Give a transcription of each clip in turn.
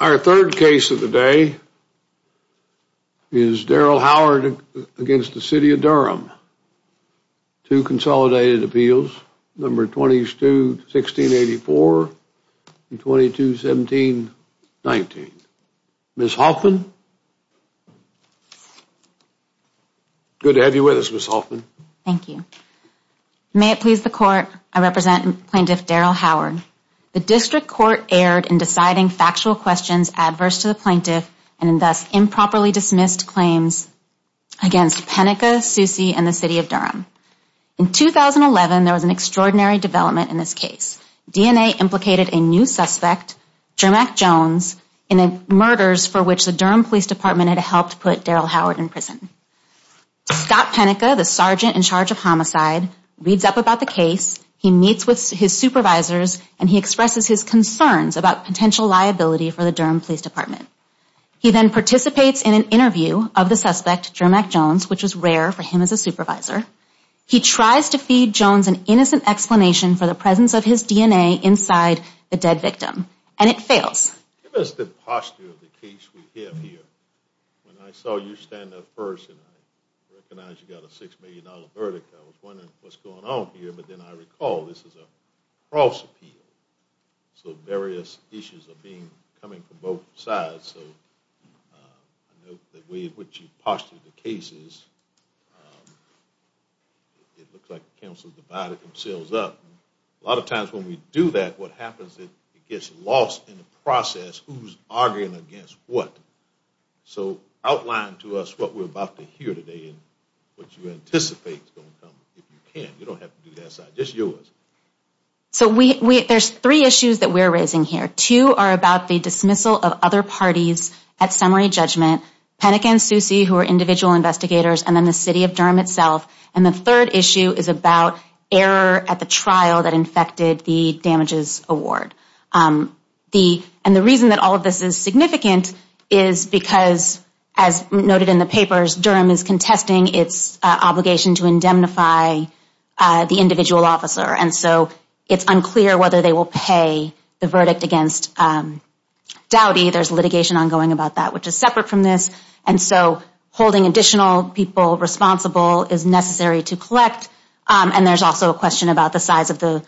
Our third case of the day is Darryl Howard against the City of Durham. Two consolidated appeals, number 22-1684 and 22-1719. Ms. Hoffman, good to have you with us, Ms. Hoffman. Thank you. May it please the court, I represent Plaintiff Darryl Howard. The District Court erred in deciding factual questions adverse to the plaintiff and in thus improperly dismissed claims against Penica, Susie and the City of Durham. In 2011, there was an extraordinary development in this case. DNA implicated a new suspect, Jermack Jones, in the murders for which the Durham Police Department had helped put Darryl Howard in prison. Scott Penica, the sergeant in charge of homicide, reads up about the case. He meets with his supervisors and he expresses his concerns about potential liability for the Durham Police Department. He then participates in an interview of the suspect, Jermack Jones, which is rare for him as a supervisor. He tries to feed Jones an innocent explanation for the presence of his DNA This is a cross-appeal, so various issues are coming from both sides. The way in which you postulate the case, it looks like the counsel divided themselves up. A lot of times when we do that, what happens is it gets lost in the process. Who's arguing against what? So, outline to us what we're about to hear today and what you anticipate is going to come. If you can, you don't have to do that side, just yours. So, there's three issues that we're raising here. Two are about the dismissal of other parties at summary judgment. Penica and Susie, who are individual investigators, and then the city of Durham itself. And the third issue is about error at the trial that infected the damages award. And the reason that all of this is significant is because, as noted in the papers, Durham is contesting its obligation to indemnify the individual officer. And so, it's unclear whether they will pay the verdict against Dowdy. There's litigation ongoing about that, which is separate from this. And so, holding additional people responsible is necessary to collect. And there's also a question about the size of the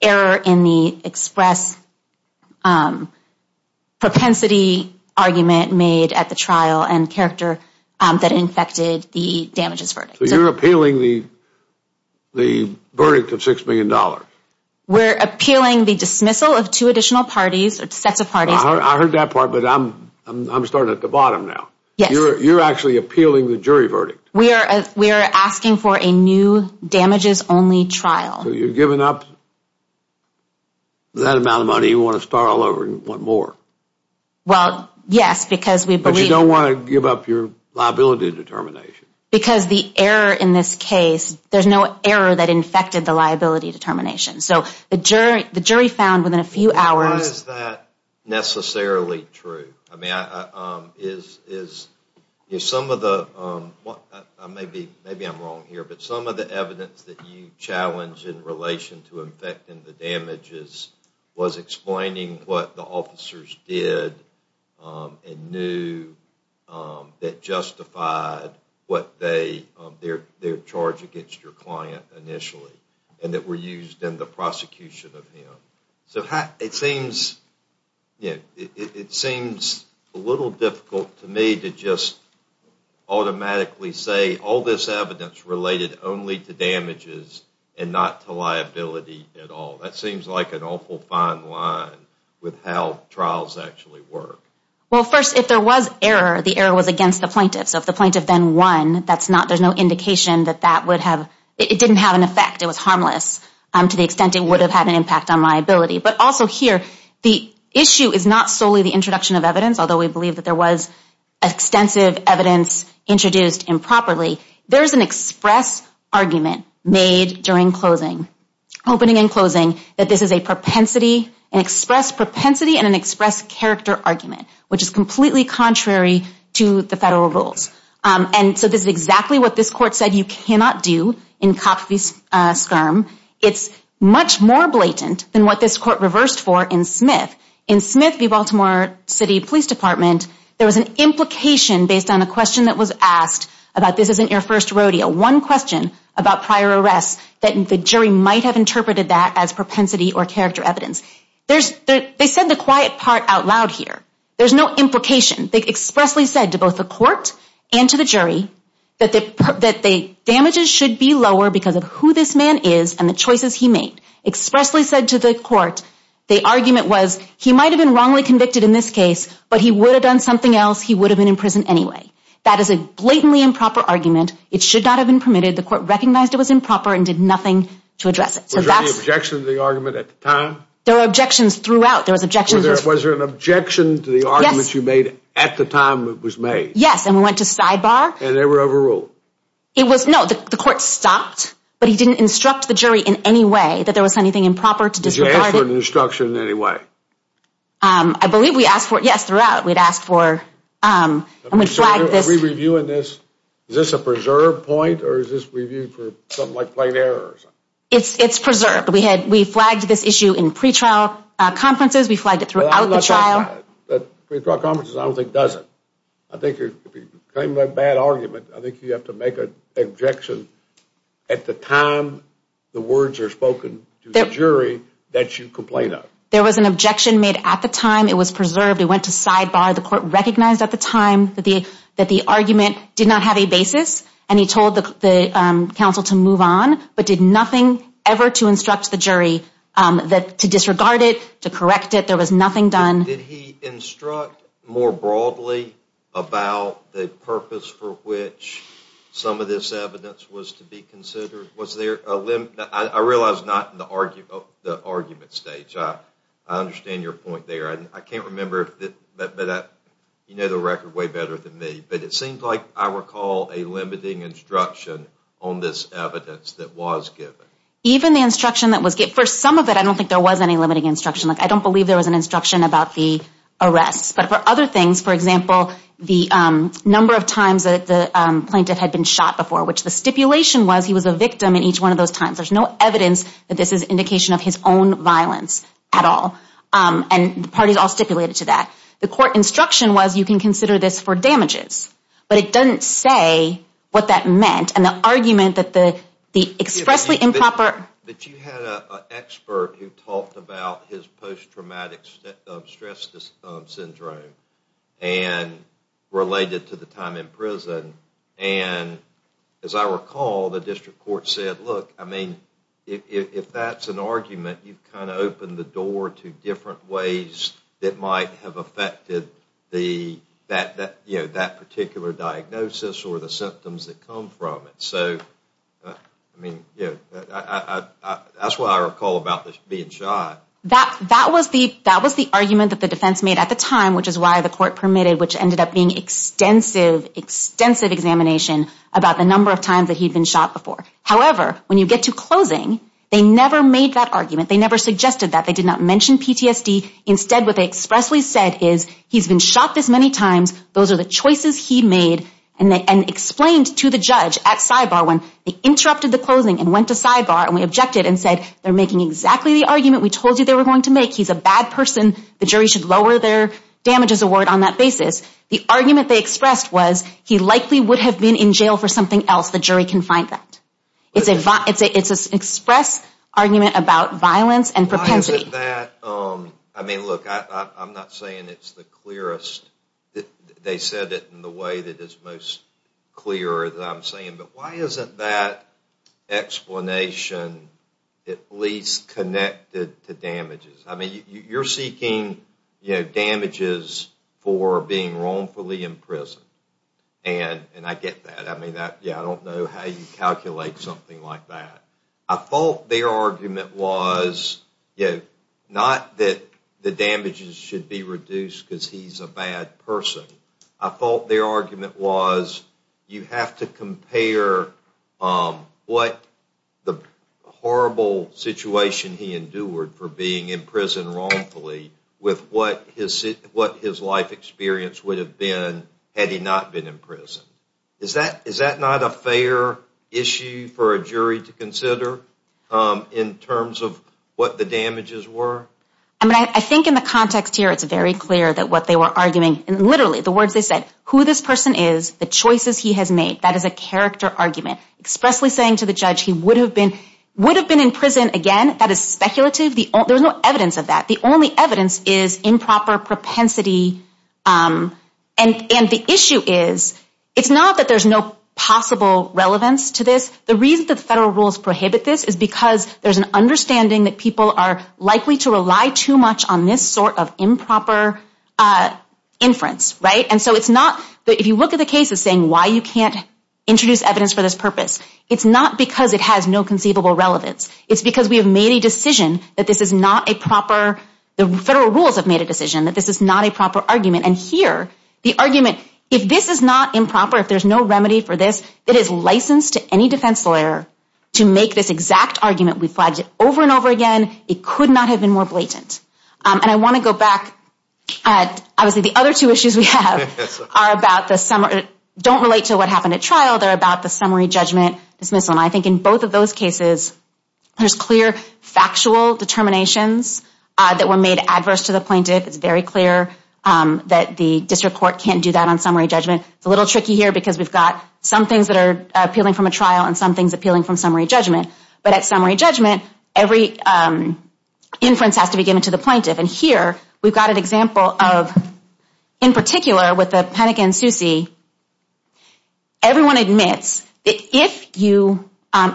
error in the express propensity argument made at the trial and character that infected the damages verdict. So, you're appealing the verdict of six million dollars? We're appealing the dismissal of two additional parties or sets of parties. I heard that part, but I'm starting at the bottom now. Yes. You're actually appealing the jury verdict? We are. We are asking for a new damages only trial. So, you've given up that amount of money. You want to start all over and want more? Well, yes. But you don't want to give up your liability determination? Because the error in this case, there's no error that infected the liability determination. So, the jury found within a few hours... Why is that necessarily true? Is some of the evidence that you challenge in relation to the officers did and knew that justified their charge against your client initially, and that were used in the prosecution of him. So, it seems a little difficult to me to just automatically say, all this evidence related only to damages and not to liability at all. That seems like an error in how trials actually work. Well, first, if there was error, the error was against the plaintiff. So, if the plaintiff then won, there's no indication that it didn't have an effect. It was harmless to the extent it would have had an impact on liability. But also here, the issue is not solely the introduction of evidence, although we believe that there was extensive evidence introduced improperly. There's an express argument made during closing, opening and closing, that this is a propensity, an express propensity and an express character argument, which is completely contrary to the federal rules. And so, this is exactly what this court said you cannot do in COPS v. SCRM. It's much more blatant than what this court reversed for in Smith. In Smith v. Baltimore City Police Department, there was an implication based on a question that was asked about, this isn't your first rodeo. One question about prior arrests that the jury might have interpreted that as propensity or they said the quiet part out loud here. There's no implication. They expressly said to both the court and to the jury that the damages should be lower because of who this man is and the choices he made. Expressly said to the court, the argument was, he might have been wrongly convicted in this case, but he would have done something else. He would have been in prison anyway. That is a blatantly improper argument. It should not have been permitted. The court recognized it was improper and did nothing to address it. Was there any objection to the Was there an objection to the arguments you made at the time it was made? Yes, and we went to sidebar. And they were overruled? No, the court stopped, but he didn't instruct the jury in any way that there was anything improper to disregard it. Did you ask for an instruction in any way? I believe we asked for it, yes, throughout. We'd asked for, and we flagged this. Are we reviewing this? Is this a preserved point or is this reviewed for something like plain errors? It's preserved. We flagged this issue in pre-trial conferences. We flagged it throughout the trial. Pre-trial conferences I don't think does it. I think if you claim a bad argument, I think you have to make an objection at the time the words are spoken to the jury that you complained of. There was an objection made at the time. It was preserved. It went to sidebar. The court recognized at the time that the argument did not have a basis, and he told the counsel to move on, but did nothing ever to instruct the jury to disregard it, to correct it. There was nothing done. Did he instruct more broadly about the purpose for which some of this evidence was to be considered? I realize not in the argument stage. I understand your point there. I can't remember, but you know the record way better than me, but it seems like I recall a limiting instruction on this evidence that was given. Even the instruction that was given, for some of it I don't think there was any limiting instruction. I don't believe there was an instruction about the arrest, but for other things, for example, the number of times that the plaintiff had been shot before, which the stipulation was he was a victim in each one of those times. There's no evidence that this is indication of his own violence at all, and the parties all stipulated to that. The court instruction was you can consider this for damages, but it doesn't say what that meant, and the argument that the expressly impromptu But you had an expert who talked about his post-traumatic stress syndrome and related to the time in prison, and as I recall, the district court said, look, I mean, if that's an argument, you've kind of opened the door to different ways that might have affected that particular diagnosis or the symptoms that come from it. And so, I mean, yeah, that's what I recall about this being shot. That was the argument that the defense made at the time, which is why the court permitted, which ended up being extensive, extensive examination about the number of times that he'd been shot before. However, when you get to closing, they never made that argument. They never suggested that. They did not mention PTSD. Instead, what they expressly said is he's been shot this many times. Those are the choices he made, and explained to the judge at sidebar when they interrupted the closing and went to sidebar, and we objected and said, they're making exactly the argument we told you they were going to make. He's a bad person. The jury should lower their damages award on that basis. The argument they expressed was he likely would have been in jail for something else. The jury can find that. It's an express argument about violence and propensity. I mean, look, I'm not saying it's the clearest. They said it in the way that is most clear that I'm saying. But why isn't that explanation at least connected to damages? I mean, you're seeking damages for being wrongfully imprisoned, and I get that. I don't know how you calculate something like that. I thought their argument was not that the damages should be reduced because he's a bad person. I thought their argument was you have to compare what the horrible situation he endured for being in prison wrongfully with what his life experience would have been had he not been in prison. Is that not a fair issue for a jury to consider in terms of what the damages were? I mean, I think in the context here, it's very clear that what they were arguing and literally the words they said, who this person is, the choices he has made, that is a character argument expressly saying to the judge he would have been in prison again. That is speculative. There's no evidence of that. The only evidence is improper propensity. And the issue is, it's not that there's no possible relevance to this. The reason that the federal rules prohibit this is because there's an understanding that people are likely to rely too much on this sort of improper inference, right? And so it's not that if you look at the cases saying why you can't introduce evidence for this purpose, it's not because it has no conceivable relevance. It's because we have made a decision that this is not a proper, the federal rules have made that this is not a proper argument. And here, the argument, if this is not improper, if there's no remedy for this, it is licensed to any defense lawyer to make this exact argument. We flagged it over and over again. It could not have been more blatant. And I want to go back at, obviously the other two issues we have are about the summary, don't relate to what happened at trial. They're about the summary judgment dismissal. And I think in both of those cases, there's clear factual determinations that were made adverse to the plaintiff. It's very clear that the district court can't do that on summary judgment. It's a little tricky here because we've got some things that are appealing from a trial and some things appealing from summary judgment. But at summary judgment, every inference has to be given to the plaintiff. And here, we've got an example of, in particular, with the Penick and Susi, everyone admits that if you,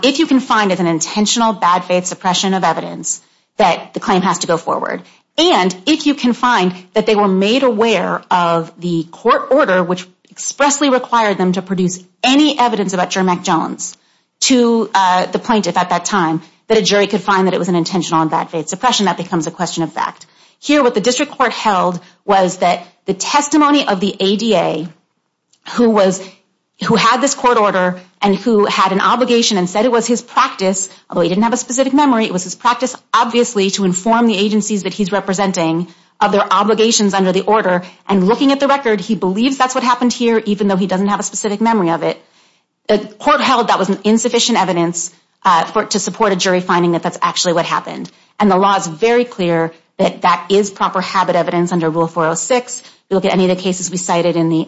if you can find an intentional bad faith suppression of evidence that the claim has to go forward. And if you can find that they were made aware of the court order, which expressly required them to produce any evidence about Jermack Jones to the plaintiff at that time, that a jury could find that it was an intentional and bad faith suppression, that becomes a question of fact. Here, what the district court held was that the testimony of the ADA, who was, who had this court order and who had an obligation and said it was his practice, although he didn't have a specific memory, it was his practice, obviously, to inform the agencies that he's representing of their obligations under the order. And looking at the record, he believes that's what happened here, even though he doesn't have a specific memory of it. The court held that was insufficient evidence to support a jury finding that that's actually what happened. And the law is very clear that that is proper habit evidence under Rule 406. If you look at any of the cases we cited in the,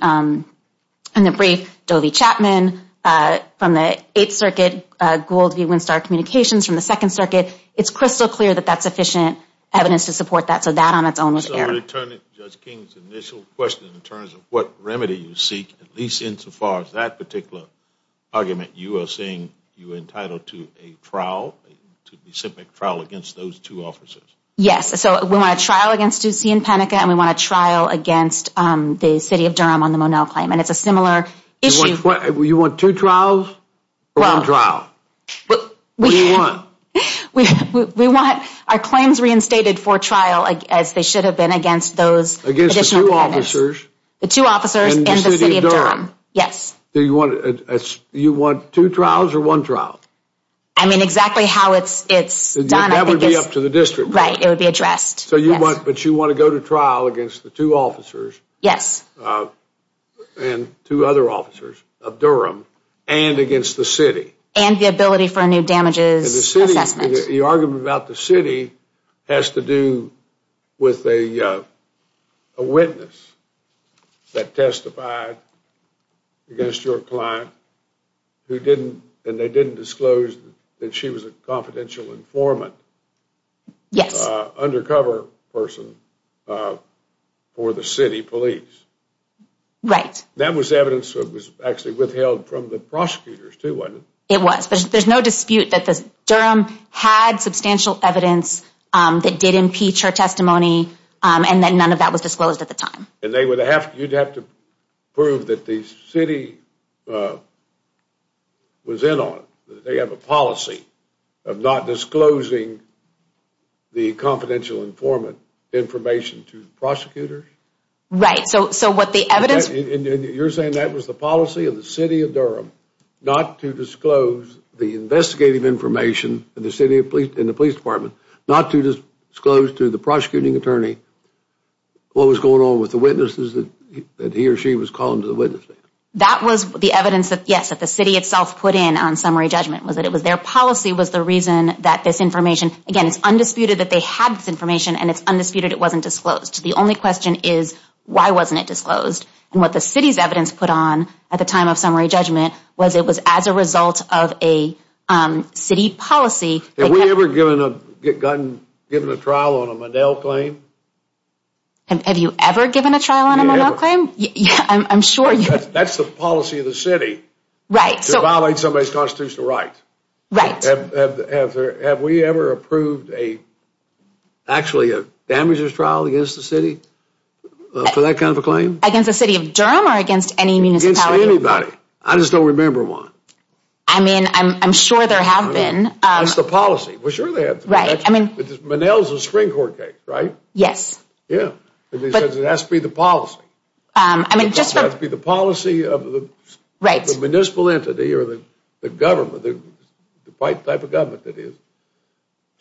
in the brief, Doe v. Chapman from the Eighth Circuit, Gould v. Winstar Communications from the Second Circuit, it's crystal clear that that's sufficient evidence to support that. So that on its own was error. So returning to Judge King's initial question in terms of what remedy you seek, at least insofar as that particular argument, you are saying you were entitled to a trial, a specific trial against those two officers? Yes. So we want a trial against Ducey and Penica, and we want a trial against the City of Durham on the Monell claim. And it's a similar issue. You want two trials, or one trial? Well, what do you want? We, we want our claims reinstated for trial, as they should have been against those additional defendants. Against the two officers? The two officers and the City of Durham. Yes. Do you want, do you want two trials or one trial? I mean, exactly how it's, it's done. That would be up to the District Court. Right, it would be addressed. So you want, but you want to go to trial against the two officers? Yes. And two other officers of Durham, and against the City? And the ability for new damages. And the City, the argument about the City has to do with a witness that testified against your client who didn't, and they didn't disclose that she was a confidential informant. Yes. Undercover person for the City Police. Right. That was evidence that was actually withheld from the prosecutors too, wasn't it? It was, but there's no dispute that the Durham had substantial evidence that did impeach her testimony, and that none of that was disclosed at the time. And they would have, you'd have to prove that the City was in on it, that they have a policy of not disclosing the confidential informant information to the prosecutors? Right, so, so what the evidence... You're saying that was the policy of the City of Durham not to disclose the investigative information in the Police Department, not to disclose to the prosecuting attorney what was going on with the witnesses that he or she was calling to the witness stand? That was the evidence that, yes, that the City itself put in on summary judgment, was that it was their policy was the reason that this information... Again, it's undisputed that they had this information, and it's undisputed it wasn't disclosed. The only question is, why wasn't it disclosed? And what the City's evidence put on at the time of summary judgment was it was as a result of a City policy... Have we ever given a, gotten, given a trial on a Monell claim? Have you ever given a trial on a Monell claim? I'm sure you have. That's the policy of the City. Right. To violate somebody's constitutional right. Right. Have we ever approved a, actually a damages trial against the City for that kind of a claim? Against the City of Durham or against any municipality? Against anybody. I just don't remember one. I mean, I'm sure there have been. That's the policy. Well, sure they have. Right. I mean... Monell's a Supreme Court case, right? Yes. Yeah. But it has to be the policy. I mean, just for... It has to be the policy of the... Right. The municipal entity or the government, the white type of government that is,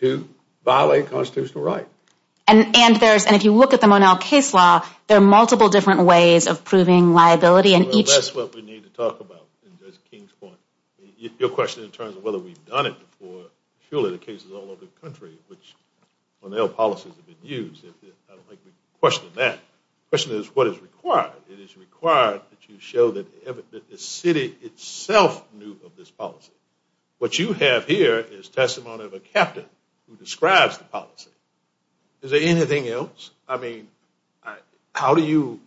to violate constitutional right. And, and there's, and if you look at the Monell case law, there are multiple different ways of proving liability and each... That's what we need to talk about in Judge King's point. Your question in terms of whether we've done it before, surely the case is all over the country, which Monell policies have been used. I don't think we can question that. The question is what is required? It is required that you show that the City itself knew of this policy. What you have here is testimony of a captain who describes the policy. Is there anything else? I mean, how do you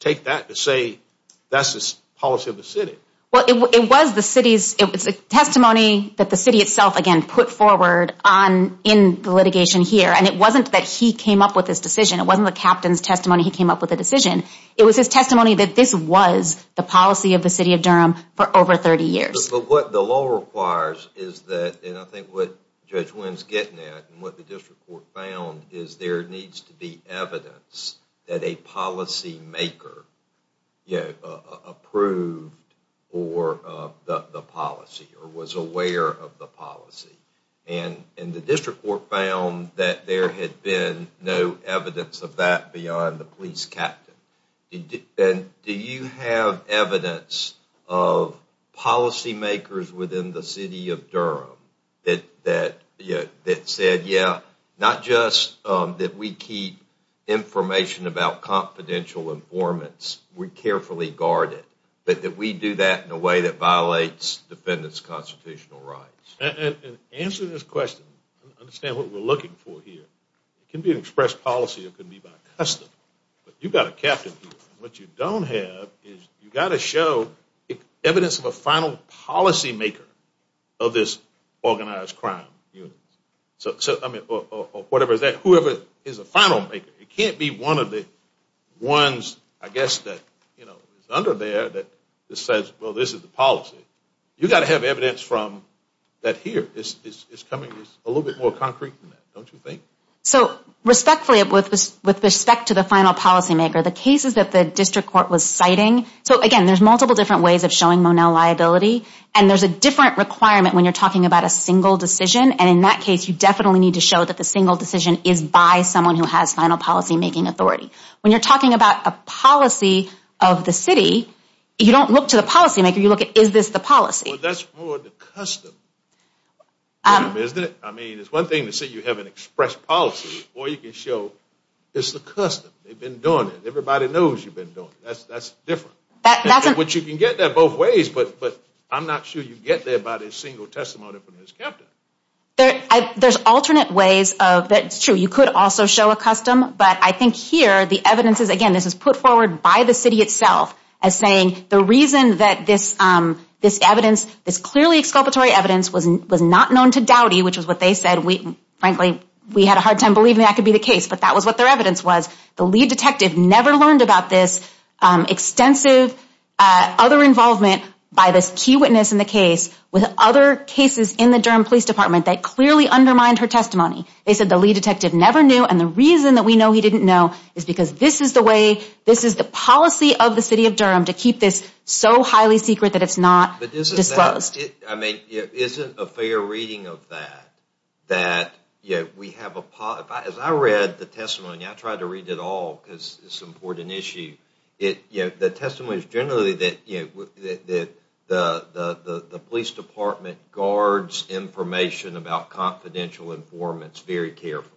take that to say that's the policy of the City? Well, it was the City's... It was a testimony that the City itself, again, put forward on in the litigation here. And it wasn't that he came up with this decision. It wasn't the captain's testimony. He came up with a decision. It was his testimony that this was the policy of the City of Durham for over 30 years. But what the law requires is that, and I think what Judge Wynn's getting at and what the District Court found is there needs to be evidence that a policymaker approved the policy or was aware of the policy. And the District Court found that there had been no evidence of that beyond the police captain. And do you have evidence of policymakers within the City of Durham that said, yeah, not just that we keep information about confidential informants, we carefully guard it, but that we do that in a way that violates defendants' constitutional rights? And answering this question, understand what we're looking for here. It can be an express policy. It can be by custom. But you've got a captain here. What you don't have is you've got to show evidence of a final policymaker of this organized crime. So, I mean, or whatever is that, whoever is a final maker. It can't be one of the ones, I guess, that is under there that says, well, this is the policy. You've got to have evidence from that here. It's coming a little bit more concrete than that, don't you think? So, respectfully, with respect to the final policymaker, the cases that the District Court was citing, so, again, there's multiple different ways of showing Monell liability. And there's a different requirement when you're talking about a single decision. And in that case, you definitely need to show that the single decision is by someone who has final policymaking authority. When you're talking about a policy of the City, you don't look to the policymaker. You look at, is this the policy? Well, that's more the custom. Isn't it? I mean, it's one thing to say you have an express policy, or you can show it's the custom. They've been doing it. Everybody knows you've been doing it. That's different. Which you can get there both ways, but I'm not sure you get there by the single testimony from this captain. There's alternate ways of, that's true, you could also show a custom. But I think here, the evidence is, again, this is put forward by the City itself as saying the reason that this evidence, this clearly exculpatory evidence was not known to Dowdy, which is what they said. Frankly, we had a hard time believing that could be the case, but that was what their evidence was. The lead detective never learned about this extensive other involvement by this key witness in the case with other cases in the Durham Police Department that clearly undermined her testimony. They said the lead detective never knew. And the reason that we know he didn't know is because this is the way, of the City of Durham, to keep this so highly secret that it's not disclosed. I mean, isn't a fair reading of that? That we have a, as I read the testimony, I tried to read it all because it's an important issue. The testimony is generally that the Police Department guards information about confidential informants very carefully.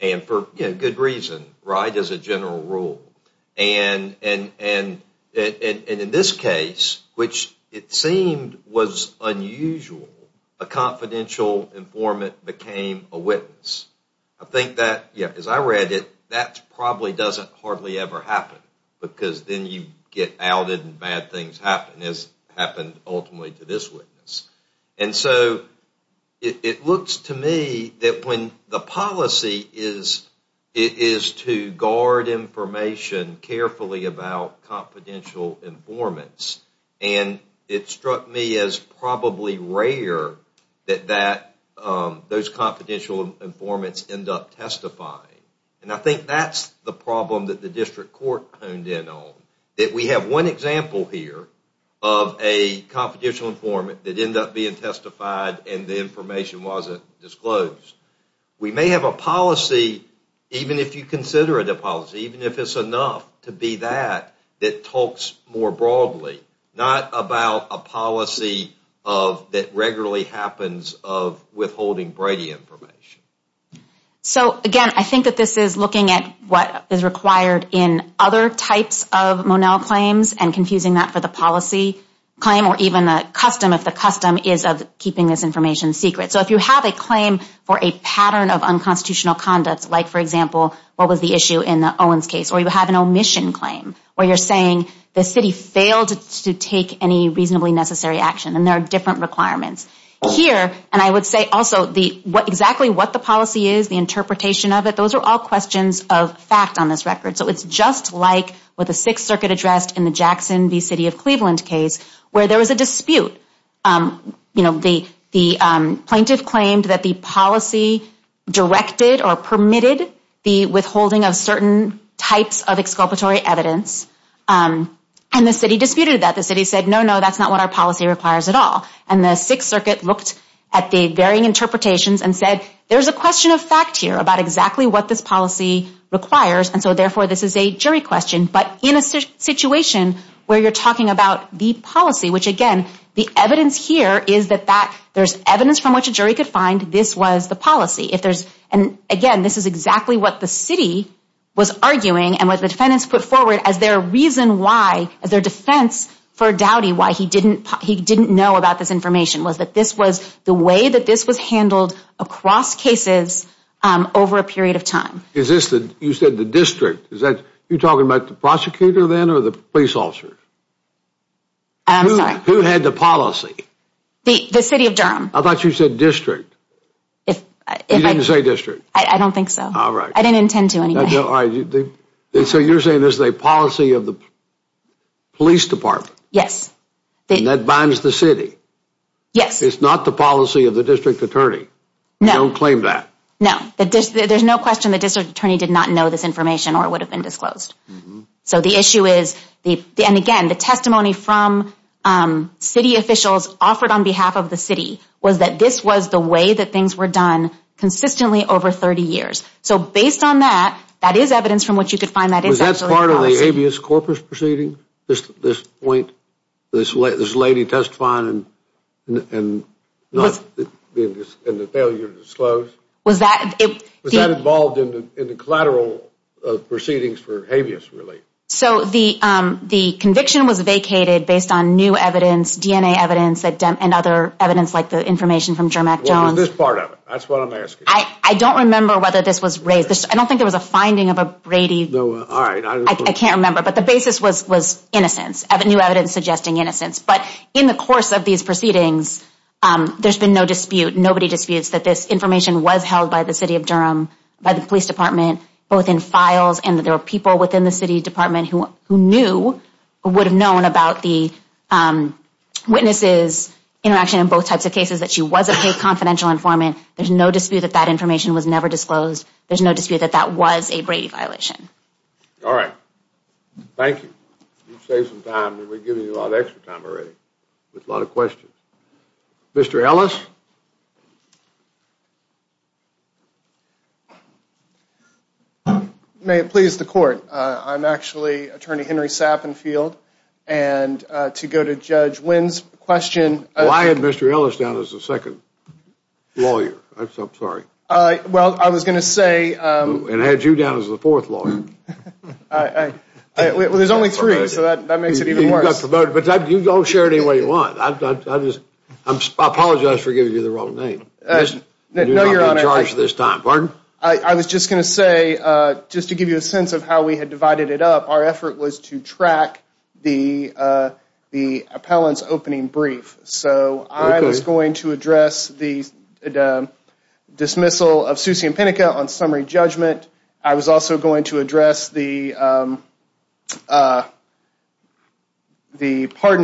And for good reason, right? As a general rule. And in this case, which it seemed was unusual, a confidential informant became a witness. I think that, as I read it, that probably doesn't hardly ever happen because then you get outed and bad things happen, as happened ultimately to this witness. And so, it looks to me that when the policy is to guard information carefully about confidential informants, and it struck me as probably rare that those confidential informants end up testifying. And I think that's the problem that the District Court honed in on. That we have one example here of a confidential informant that ended up being testified and the information wasn't disclosed. We may have a policy, even if you consider it a policy, even if it's enough to be that, that talks more broadly. Not about a policy that regularly happens of withholding Brady information. So, again, I think that this is looking at what is required in other types of Monell claims and confusing that for the policy claim or even a custom, if the custom is of keeping this information secret. So, if you have a claim for a pattern of unconstitutional conduct, like, for example, what was the issue in the Owens case, or you have an omission claim, or you're saying the city failed to take any reasonably necessary action, and there are different requirements. Here, and I would say also, exactly what the policy is, the interpretation of it, those are all questions of fact on this record. So, it's just like with the Sixth Circuit address in the Jackson v. City of Cleveland case, where there was a dispute. You know, the plaintiff claimed that the policy directed or permitted the withholding of certain types of exculpatory evidence. And the city disputed that. The city said, no, no, that's not what our policy requires at all. And the Sixth Circuit looked at the varying interpretations and said, there's a question of fact here about exactly what this policy requires. And so, therefore, this is a jury question. But in a situation where you're talking about the policy, which again, the evidence here is that there's evidence from which a jury could find this was the policy. And again, this is exactly what the city was arguing and what the defendants put forward as their reason why, as their defense for Dowdy, why he didn't know about this information, was that this was the way that this was handled across cases over a period of time. Is this, you said the district, is that you're talking about the prosecutor then or the police officer? I'm sorry. Who had the policy? The city of Durham. I thought you said district. If I didn't say district. I don't think so. All right. I didn't intend to. So you're saying this is a policy of the police department? Yes. And that binds the city? Yes. It's not the policy of the district attorney? You don't claim that? No. There's no question the district attorney did not know this information or it would have been disclosed. So the issue is, and again, the testimony from city officials offered on behalf of the city was that this was the way that things were done consistently over 30 years. So based on that, that is evidence from which you could find that. Was that part of the habeas corpus proceeding? This point, this lady testifying and the failure to disclose? Was that involved in the collateral of proceedings for habeas relief? So the conviction was vacated based on new evidence, DNA evidence, and other evidence like the information from Jermac Jones. This part of it. That's what I'm asking. I don't remember whether this was raised. I don't think there was a finding of a Brady. No. All right. I can't remember. But the basis was innocence, new evidence suggesting innocence. But in the course of these proceedings, there's been no dispute. Nobody disputes that this information was held by the city of Durham, by the police department, both in files, and that there were people within the city department who knew or would have known about the witnesses' interaction in both types of cases, that she was a paid confidential informant. There's no dispute that that information was never disclosed. There's no dispute that that was a Brady violation. All right. Thank you. You've saved some time and we've given you a lot of extra time already with a lot of questions. Mr. Ellis? May it please the court. I'm actually attorney Henry Sappenfield. And to go to Judge Wynn's question. Well, I had Mr. Ellis down as the second lawyer. I'm sorry. Well, I was going to say. And had you down as the fourth lawyer. There's only three, so that makes it even worse. But you don't share it any way you want. I just apologize for giving you the wrong name. You're not being charged this time. Pardon? I was just going to say, just to give you a sense of how we had divided it up, our effort was to track the appellant's opening brief. So I was going to address the dismissal of Susie Impenica on summary judgment. I was also going to address the pardon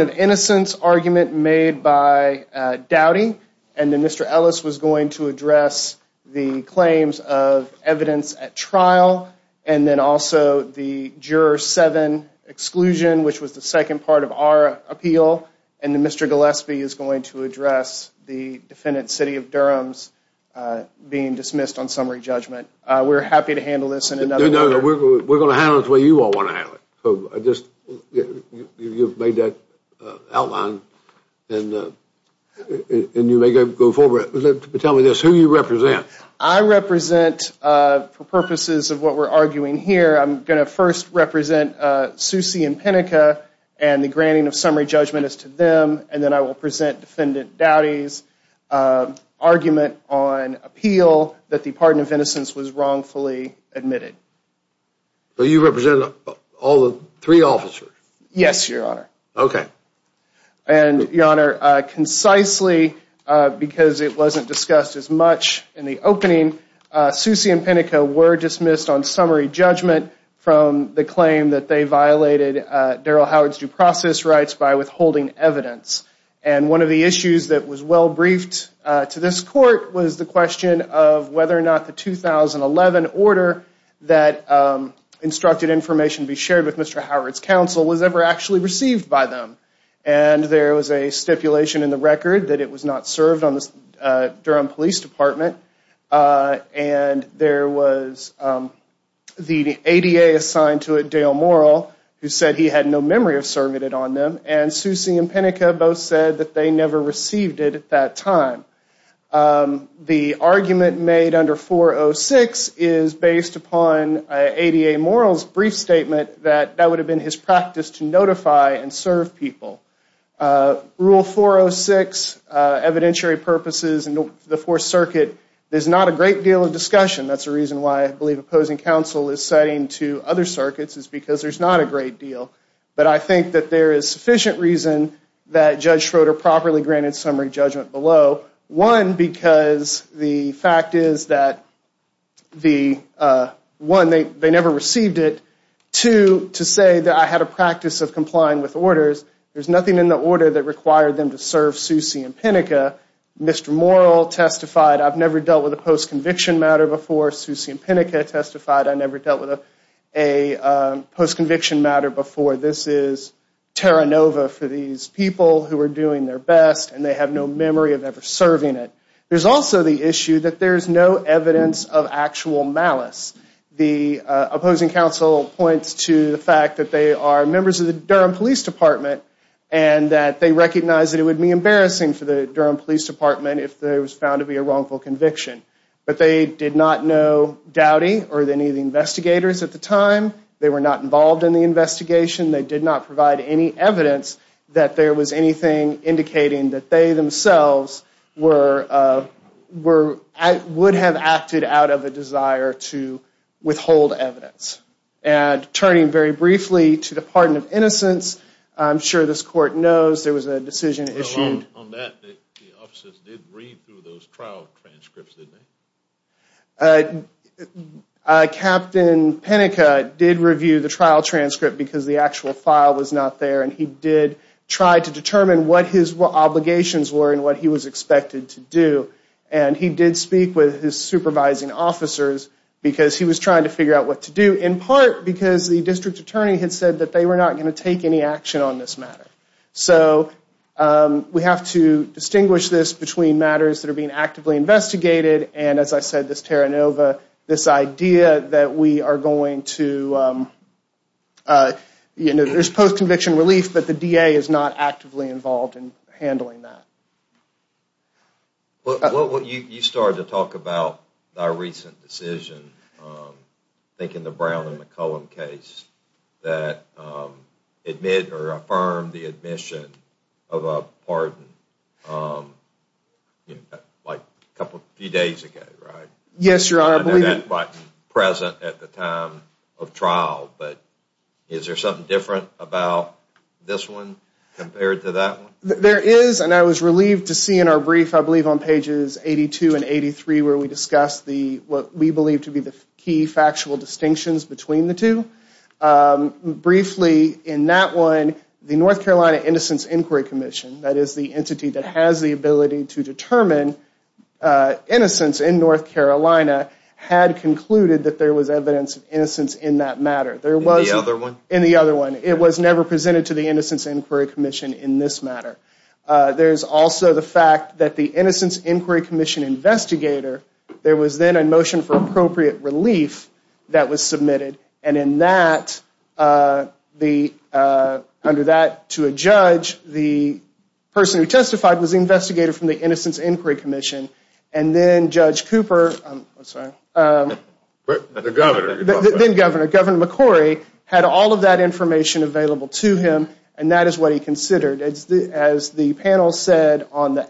of innocence argument made by Dowdy. And then Mr. Ellis was going to address the claims of evidence at trial. And then also the juror seven exclusion, which was the second part of our appeal. And then Mr. Gillespie is going to address the defendant, City of Durham's being dismissed on summary judgment. We're happy to handle this in another way. No, no, we're going to handle it the way you all want to handle it. So I just, you've made that outline and you may go forward. Tell me this, who do you represent? I represent, for purposes of what we're arguing here, I'm going to first represent Susie Impenica and the granting of summary judgment is to them. And then I will present defendant Dowdy's argument on appeal that the pardon of innocence was wrongfully admitted. So you represent all the three officers? Yes, your honor. Okay. And your honor, concisely because it wasn't discussed as much in the opening, Susie Impenica were dismissed on summary judgment from the claim that they violated Daryl Howard's due process rights by withholding evidence. And one of the issues that was well briefed to this court was the question of whether or not the 2011 order that instructed information to be shared with Mr. Howard's counsel was ever actually received by them. And there was a stipulation in the record that it was not served on the Durham Police Department. And there was the ADA assigned to it, Dale Morrill, who said he had no memory of serving it on them. And Susie Impenica both said that they never received it at that time. The argument made under 406 is based upon ADA Morrill's brief statement that that would have been his practice to notify and serve people. Rule 406, evidentiary purposes in the Fourth Circuit, there's not a great deal of discussion. That's the reason why I believe opposing counsel is setting to other circuits is because there's not a great deal. But I think that there is sufficient reason that Judge Schroeder properly granted summary judgment below. One, because the fact is that, one, they never received it. Two, to say that I had a practice of complying with orders, there's nothing in the order that required them to serve Susie Impenica. Mr. Morrill testified, I've never dealt with a post-conviction matter before. Susie Impenica testified, I never dealt with a post-conviction matter before. This is Terra Nova for these people who are doing their best and they have no memory of ever serving it. There's also the issue that there's no evidence of actual malice. The opposing counsel points to the fact that they are members of the Durham Police Department and that they recognize that it would be embarrassing for the Durham Police Department if there was found to be a wrongful conviction. But they did not know Dowdy or any of the investigators at the time. They were not involved in the investigation. They did not provide any evidence that there was anything indicating that they themselves would have acted out of a desire to withhold evidence. And turning very briefly to the pardon of innocence, I'm sure this court knows there was a decision issue. Well, on that, the officers did read through those trial transcripts, didn't they? Captain Penica did review the trial transcript because the actual file was not there and he did try to determine what his obligations were and what he was expected to do. And he did speak with his supervising officers because he was trying to figure out what to do, in part because the district attorney had said that they were not going to take any action on this matter. So we have to distinguish this between matters that are being actively investigated and as I said, this Terra Nova, this idea that we are going to, you know, there's post-conviction relief, but the DA is not actively involved in handling that. Well, you started to talk about our recent decision, I think in the Brown and McCollum case, that admitted or affirmed the admission of a pardon like a couple, a few days ago, right? Yes, Your Honor. But present at the time of trial. But is there something different about this one compared to that one? There is, and I was relieved to see in our brief, I believe on pages 82 and 83, where we discussed what we believe to be the key factual distinctions between the two. Briefly, in that one, the North Carolina Innocence Inquiry Commission, that is the entity that has the ability to determine innocence in North Carolina, had concluded that there was evidence of innocence in that matter. In the other one? In the other one. It was never presented to the Innocence Inquiry Commission in this matter. There's also the fact that the Innocence Inquiry Commission investigator, there was then a motion for appropriate relief that was submitted. And in that, under that, to a judge, the person who testified was investigated from the Innocence Inquiry Commission. And then Judge Cooper, I'm sorry. The governor. The governor, Governor McCrory, had all of that information available to him, and that is what he considered. As the panel said on the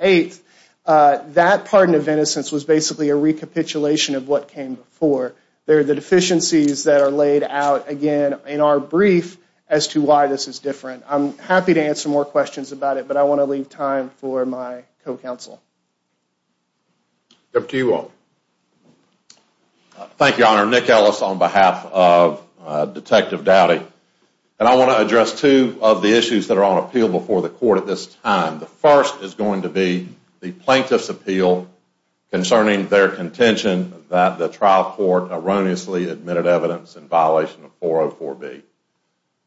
8th, that pardon of innocence was basically a recapitulation of what came before. There are the deficiencies that are laid out, again, in our brief, as to why this is different. I'm happy to answer more questions about it, but I want to leave time for my co-counsel. Deputy Ewell. Thank you, Your Honor. Nick Ellis on behalf of Detective Doughty. And I want to address two of the issues that are on appeal before the court at this time. The first is going to be the plaintiff's appeal concerning their contention that the trial court erroneously admitted evidence in violation of 404B.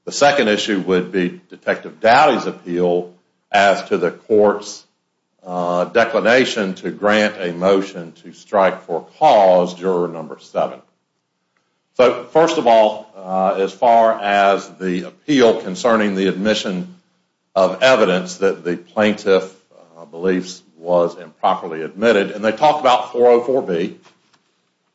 The second issue would be Detective Doughty's appeal as to the court's declination to grant a motion to strike for cause, juror number seven. So, first of all, as far as the appeal concerning the admission of evidence that the plaintiff believes was improperly admitted, and they talk about 404B,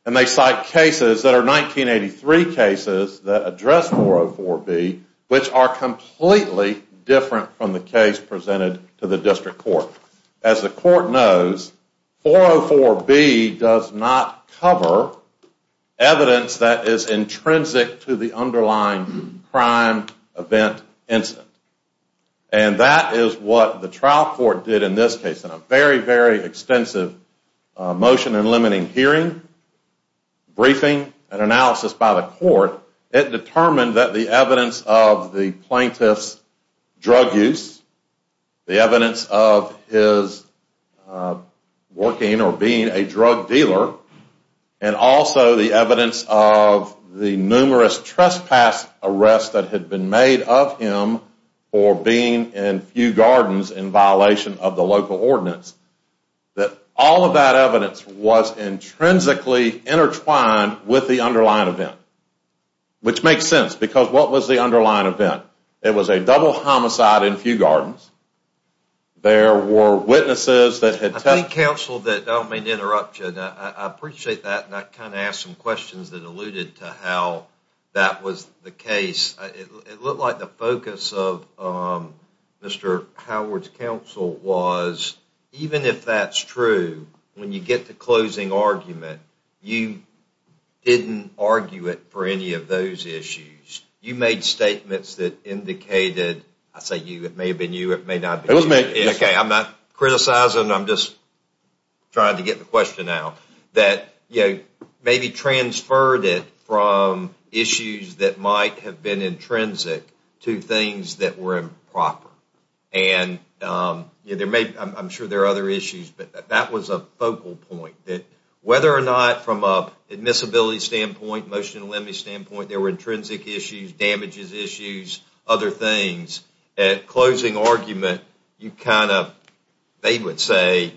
and they cite cases that are 1983 cases that address 404B, which are completely different from the case presented to the district court. As the court knows, 404B does not cover evidence that is intrinsic to the underlying crime event incident. And that is what the trial court did in this case. In a very, very extensive motion and limiting hearing, briefing, and analysis by the court, it determined that the evidence of the plaintiff's drug use, the evidence of his working or being a drug dealer, and also the evidence of the numerous trespass arrests that had been made of him for being in few gardens in violation of the local ordinance, that all of that evidence was intrinsically intertwined with the underlying event. Which makes sense, because what was the underlying event? It was a double homicide in few gardens. There were witnesses that had... I think, counsel, that I don't mean to interrupt you. I appreciate that, and I kind of asked some questions that alluded to how that was the case. It looked like the focus of Mr. Howard's counsel was, even if that's true, when you get to closing argument, you didn't argue it for any of those issues. You made statements that indicated... I say you, it may have been you, it may not have been you. Okay, I'm not criticizing, I'm just trying to get the question out. That maybe transferred it from issues that might have been intrinsic to things that were improper. And I'm sure there are other issues, but that was a focal point. Whether or not from an admissibility standpoint, motion and limit standpoint, there were intrinsic issues, damages issues, other things, at closing argument, you kind of, they would say,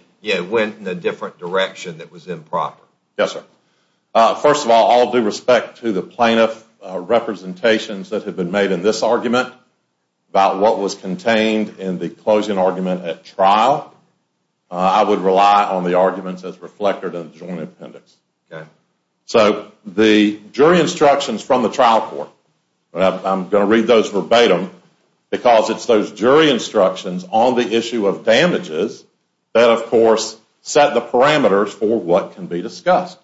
went in a different direction that was improper. Yes, sir. First of all, all due respect to the plaintiff representations that have been made in this argument, about what was contained in the closing argument at trial, I would rely on the arguments as reflected in the joint appendix. So the jury instructions from the trial court, I'm going to read those verbatim, because it's those jury instructions on the issue of damages that of course set the parameters for what can be discussed.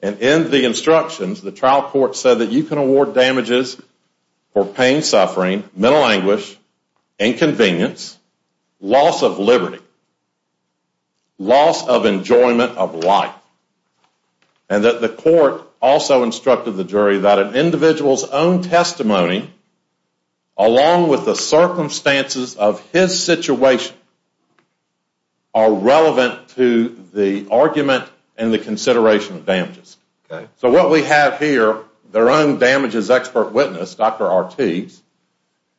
And in the instructions, the trial court said that you can award damages for pain, suffering, mental anguish, inconvenience, loss of liberty, loss of enjoyment of life. And that the court also instructed the jury that an individual's own testimony, along with the circumstances of his situation, are relevant to the argument and the consideration of damages. So what we have here, their own damages expert witness, Dr. Ortiz,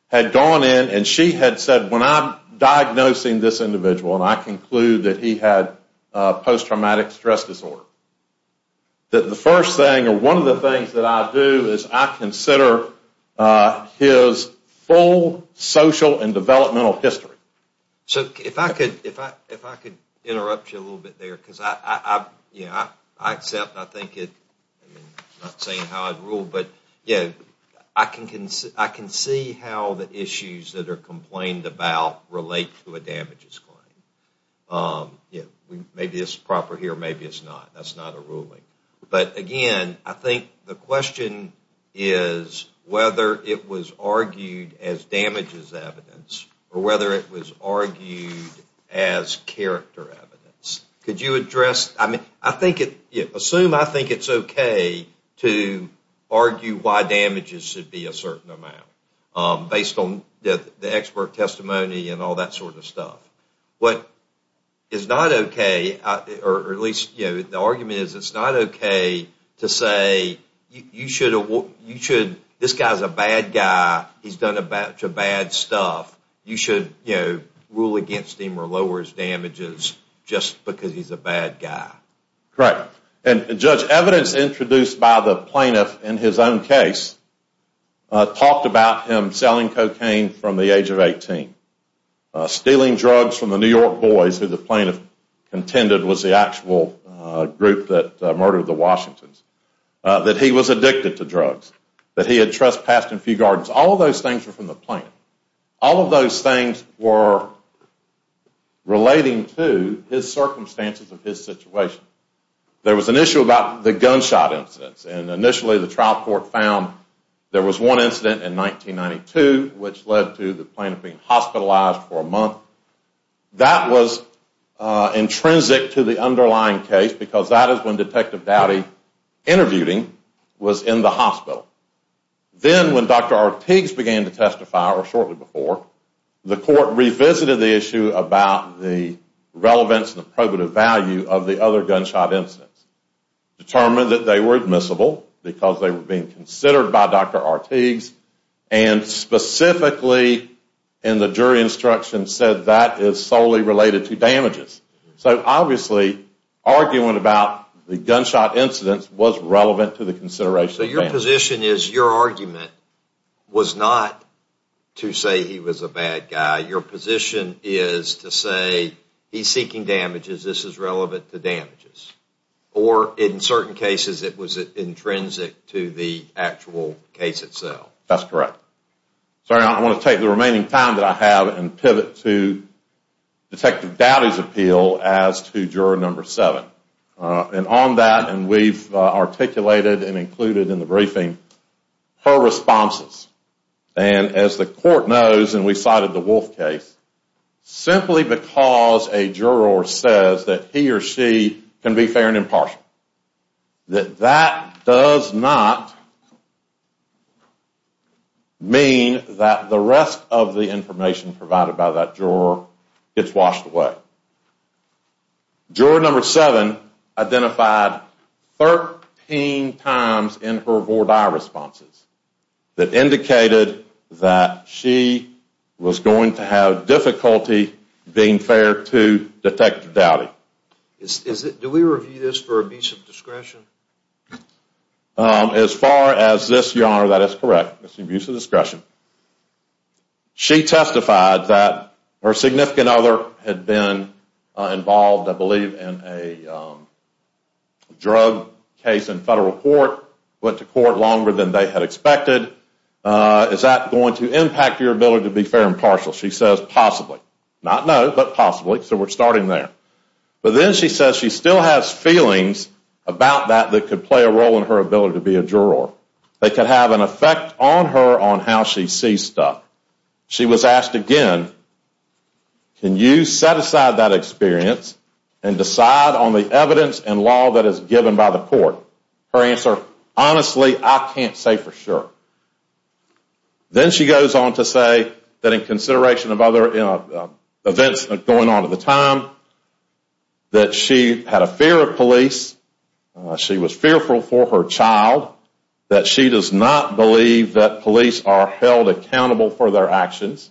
had gone in and she had said, when I'm diagnosing this individual, and I conclude that he had post-traumatic stress disorder, that the first thing, or one of the things that I do, is I consider his full social and developmental history. So if I could interrupt you a little bit there, because I accept, I think it, I'm not saying how I'd rule, but I can see how the issues that are complained about relate to a damages claim. Maybe it's proper here, maybe it's not. That's not a ruling. But again, I think the question is whether it was argued as damages evidence, or whether it was argued as character evidence. Could you address, I mean, I think it, assume I think it's okay to argue why damages should be a certain amount, based on the expert testimony and all that sort of stuff. What is not okay, or at least, you know, the argument is it's not okay to say you should, this guy's a bad guy, he's done a batch of bad stuff, you should, you know, rule against him or lower his damages just because he's a bad guy. Correct. And Judge, evidence introduced by the plaintiff in his own case talked about him selling cocaine from the age of 18. Stealing drugs from the New York boys who the plaintiff contended was the actual group that murdered the Washingtons. That he was addicted to drugs. That he had trespassed in a few gardens. All of those things were from the plaintiff. All of those things were relating to his circumstances of his situation. There was an issue about the gunshot incidents. And initially the trial court found there was one incident in 1992 which led to the plaintiff being hospitalized for a month. That was intrinsic to the underlying case because that is when Detective Doughty interviewed him, was in the hospital. Then when Dr. Ortiz began to testify, or shortly before, the court revisited the issue about the relevance and probative value of the other gunshot incidents. Determined that they were admissible because they were being considered by Dr. Ortiz. And specifically in the jury instruction said that is solely related to damages. So obviously, arguing about the gunshot incidents was relevant to the consideration. Your position is your argument was not to say he was a bad guy. Your position is to say he is seeking damages. This is relevant to damages. Or in certain cases it was intrinsic to the actual case itself. That is correct. Sorry, I want to take the remaining time that I have and pivot to Detective Doughty's appeal as to juror number seven. And on that, and we've articulated and included in the briefing, her responses. And as the court knows, and we cited the Wolf case, simply because a juror says that he or she can be fair and impartial. That that does not mean that the rest of the information provided by that juror gets washed away. Juror number seven identified 13 times in her VORDI responses that indicated that she was going to have difficulty being fair to Detective Doughty. Do we review this for abuse of discretion? As far as this, your honor, that is correct. It's abuse of discretion. She testified that her significant other had been involved, I believe, in a drug case in federal court, went to court longer than they had expected. Is that going to impact your ability to be fair and partial? She says possibly. Not no, but possibly, so we're starting there. But then she says she still has feelings about that that could play a role in her ability to be a juror. They could have an effect on her on how she sees stuff. She was asked again, can you set aside that experience and decide on the evidence and law that is given by the court? Her answer, honestly, I can't say for sure. Then she goes on to say that in consideration of other events going on at the time, that she had a fear of police. She was fearful for her child. That she does not believe that police are held accountable for their actions.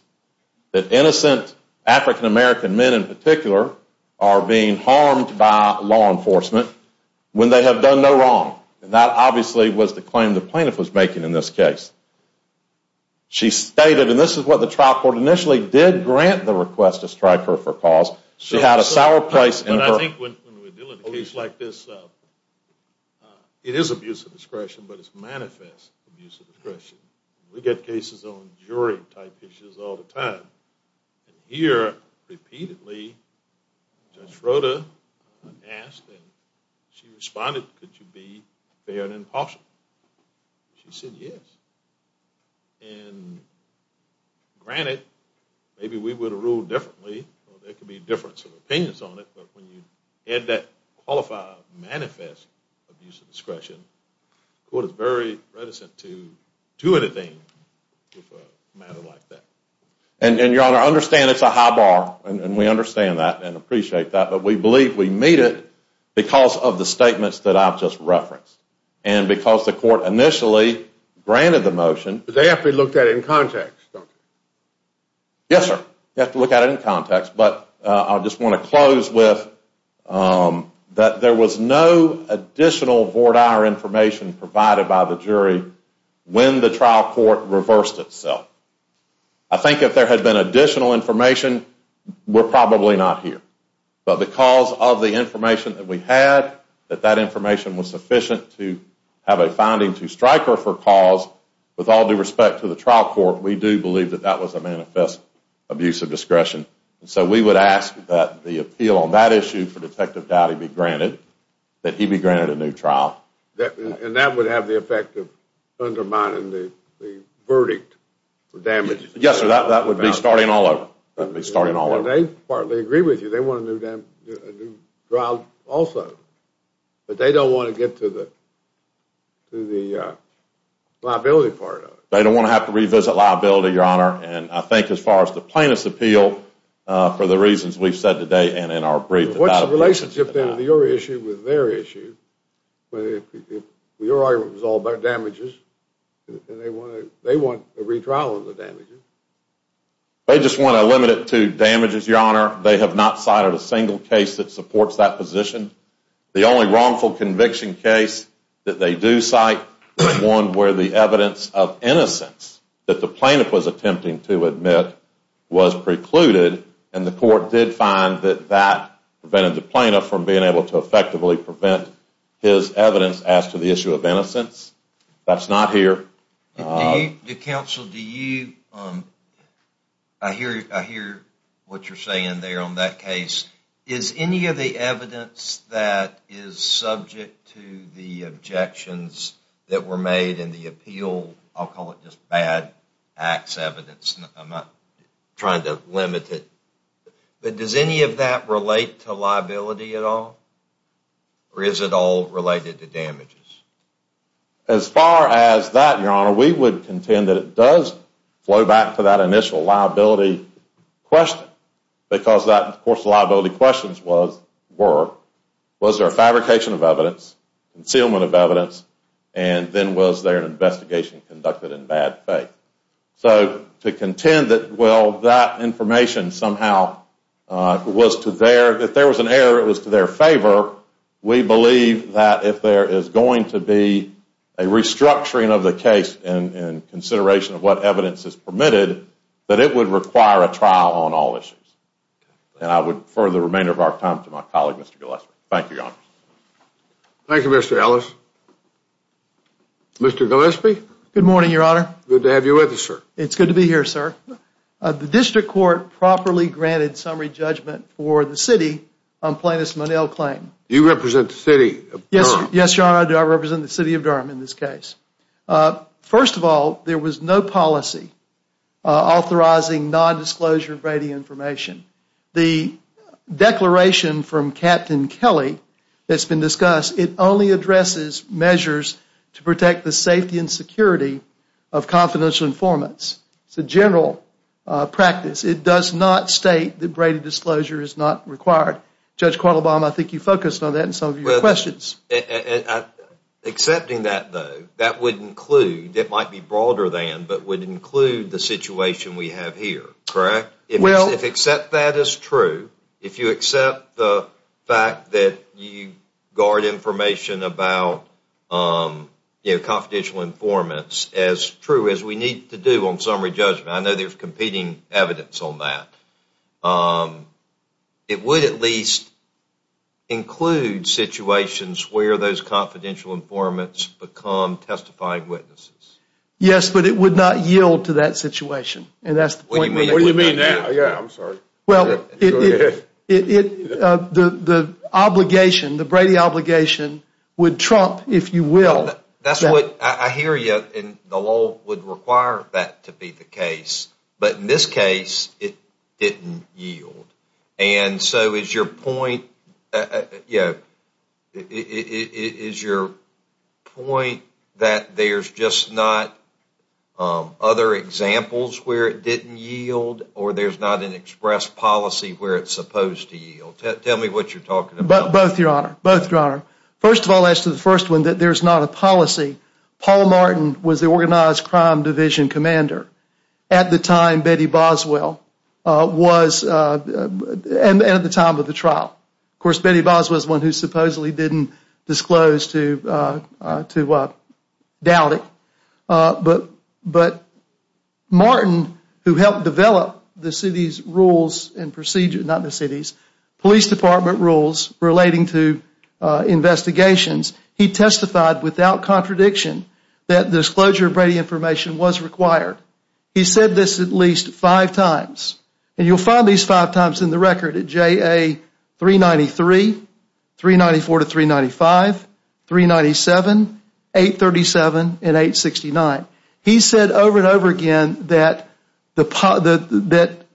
That innocent African American men in particular are being harmed by law enforcement when they have done no wrong. And that obviously was the claim the plaintiff was making in this case. She stated, and this is what the trial court initially did grant the request to strike her for cause. She had a sour place in her. Police like this, it is abuse of discretion, but it's manifest abuse of discretion. We get cases on jury type issues all the time. And here, repeatedly, Judge Froda asked and she responded, could you be fair and impartial? She said yes. And granted, maybe we would have ruled differently, or there could be a difference of opinions on it. But when you had that qualified manifest abuse of discretion, the court is very reticent to do anything with a matter like that. And your honor, I understand it's a high bar, and we understand that and appreciate that. But we believe we meet it because of the statements that I've just referenced. And because the court initially granted the motion. But they have to look at it in context, don't they? Yes, sir. You have to look at it in context. But I just want to close with that there was no additional voir dire information provided by the jury when the trial court reversed itself. I think if there had been additional information, we're probably not here. But because of the information that we had, that that information was sufficient to have a finding to strike her for cause, with all due respect to the trial court, we do believe that that was a manifest abuse of discretion. So we would ask that the appeal on that issue for Detective Dowdy be granted, that he be granted a new trial. And that would have the effect of undermining the verdict for damages? Yes, sir. That would be starting all over. That would be starting all over. They partly agree with you. They want a new trial also. But they don't want to get to the liability part of it. They don't want to have to revisit liability, your honor. And I think as far as the plaintiff's appeal, for the reasons we've said today and in our brief... What's the relationship then of your issue with their issue? Your argument was all about damages. They want a retrial of the damages. They just want to limit it to damages, your honor. They have not cited a single case that supports that position. The only wrongful conviction case that they do cite was one where the evidence of innocence that the plaintiff was attempting to admit was precluded. And the court did find that that prevented the plaintiff from being able to effectively prevent his evidence as to the issue of innocence. That's not here. Counsel, I hear what you're saying there on that case. Is any of the evidence that is subject to the objections that were made in the appeal... I'll call it just bad acts evidence. I'm not trying to limit it. But does any of that relate to liability at all? Or is it all related to damages? As far as that, your honor, we would contend that it does flow back to that initial liability question. Because that, of course, the liability questions were, was there a fabrication of evidence, concealment of evidence, and then was there an investigation conducted in bad faith? So to contend that, well, that information somehow was to their... If there was an error, it was to their favor. We believe that if there is going to be a restructuring of the case in consideration of what evidence is permitted, that it would require a trial on all issues. And I would defer the remainder of our time to my colleague, Mr. Gillespie. Thank you, your honor. Thank you, Mr. Ellis. Mr. Gillespie? Good morning, your honor. Good to have you with us, sir. It's good to be here, sir. The district court properly granted summary judgment for the city on plaintiff's Monell claim. You represent the city of Durham? Yes, your honor, I represent the city of Durham in this case. First of all, there was no policy authorizing non-disclosure of radio information. The declaration from Captain Kelly that's been discussed, it only addresses measures to protect the safety and security of confidential informants. It's a general practice. It does not state that braided disclosure is not required. Judge Quattlebaum, I think you focused on that in some of your questions. Accepting that, though, that would include, it might be broader than, but would include the situation we have here, correct? If you accept that as true, if you accept the fact that you guard information about confidential informants as true as we need to do on summary judgment, I know there's competing evidence on that, it would at least include situations where those confidential informants become testifying witnesses. Yes, but it would not yield to that situation. And that's the point. What do you mean now? Yeah, I'm sorry. Well, the obligation, the Brady obligation, would trump, if you will. That's what I hear you, and the law would require that to be the case. But in this case, it didn't yield. And so is your point, yeah, is your point that there's just not other examples where it didn't yield, or there's not an express policy where it's supposed to yield? Tell me what you're talking about. Both, Your Honor. Both, Your Honor. First of all, as to the first one, that there's not a policy. Paul Martin was the organized crime division commander at the time Betty Boswell was, and at the time of the trial. Of course, Betty Boswell is one who supposedly didn't disclose to Dowdy. But Martin, who helped develop the city's rules and procedures, not the city's, police department rules relating to investigations, he testified without contradiction that disclosure of Brady information was required. He said this at least five times. And you'll find these five times in the record at JA 393, 394 to 395, 397, 837, and 869. He said over and over again that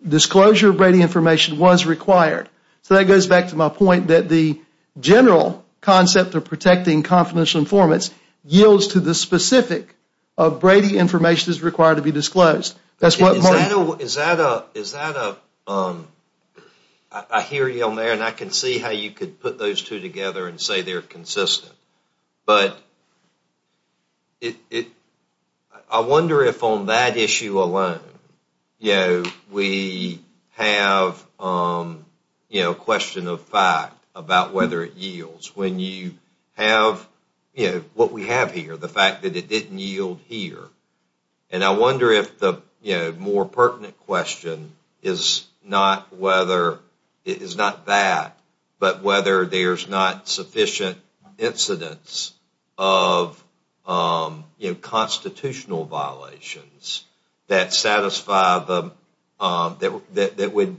disclosure of Brady information was required. So that goes back to my point that the general concept of protecting confidential informants yields to the specific of Brady information is required to be disclosed. Is that a, I hear you on there and I can see how you could put those two together and say they're consistent, but I wonder if on that issue alone we have a question of fact about whether it yields when you have what we have here, the fact that it didn't yield here. And I wonder if the more pertinent question is not whether, it is not that, but whether there's not sufficient incidence of, you know, constitutional violations that satisfy the, that would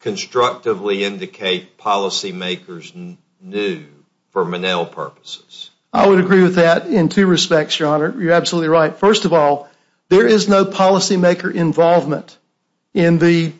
constructively indicate policy makers knew for Monell purposes. I would agree with that in two respects, your honor. You're absolutely right. First of all, there is no policy maker involvement in the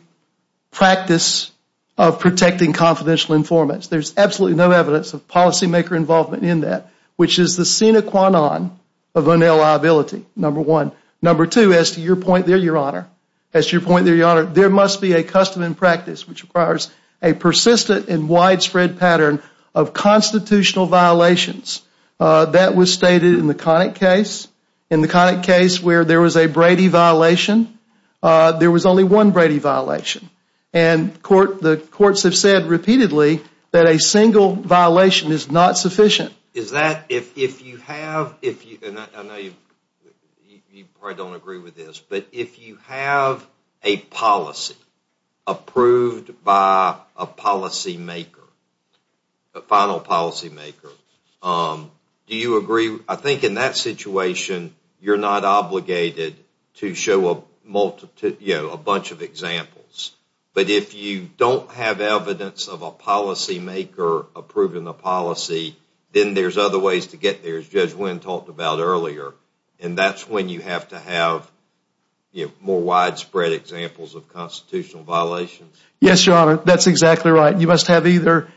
practice of protecting confidential informants. There's absolutely no evidence of policy maker involvement in that, which is the sine qua non of Monell liability, number one. Number two, as to your point there, your honor, as to your point there, your honor, there must be a custom and practice which requires a persistent and widespread pattern of constitutional violations. That was stated in the Connick case. In the Connick case where there was a Brady violation, there was only one Brady violation. And the courts have said repeatedly that a single violation is not sufficient. Is that, if you have, and I know you probably don't agree with this, but if you have a policy approved by a policy maker, a final policy maker, do you agree, I think in that situation, you're not obligated to show a bunch of examples. But if you don't have evidence of a policy maker approving a policy, then there's other ways to get there, as Judge Wynn talked about earlier. And that's when you have to have more widespread examples of constitutional violations. Yes, your honor. That's exactly right. You must either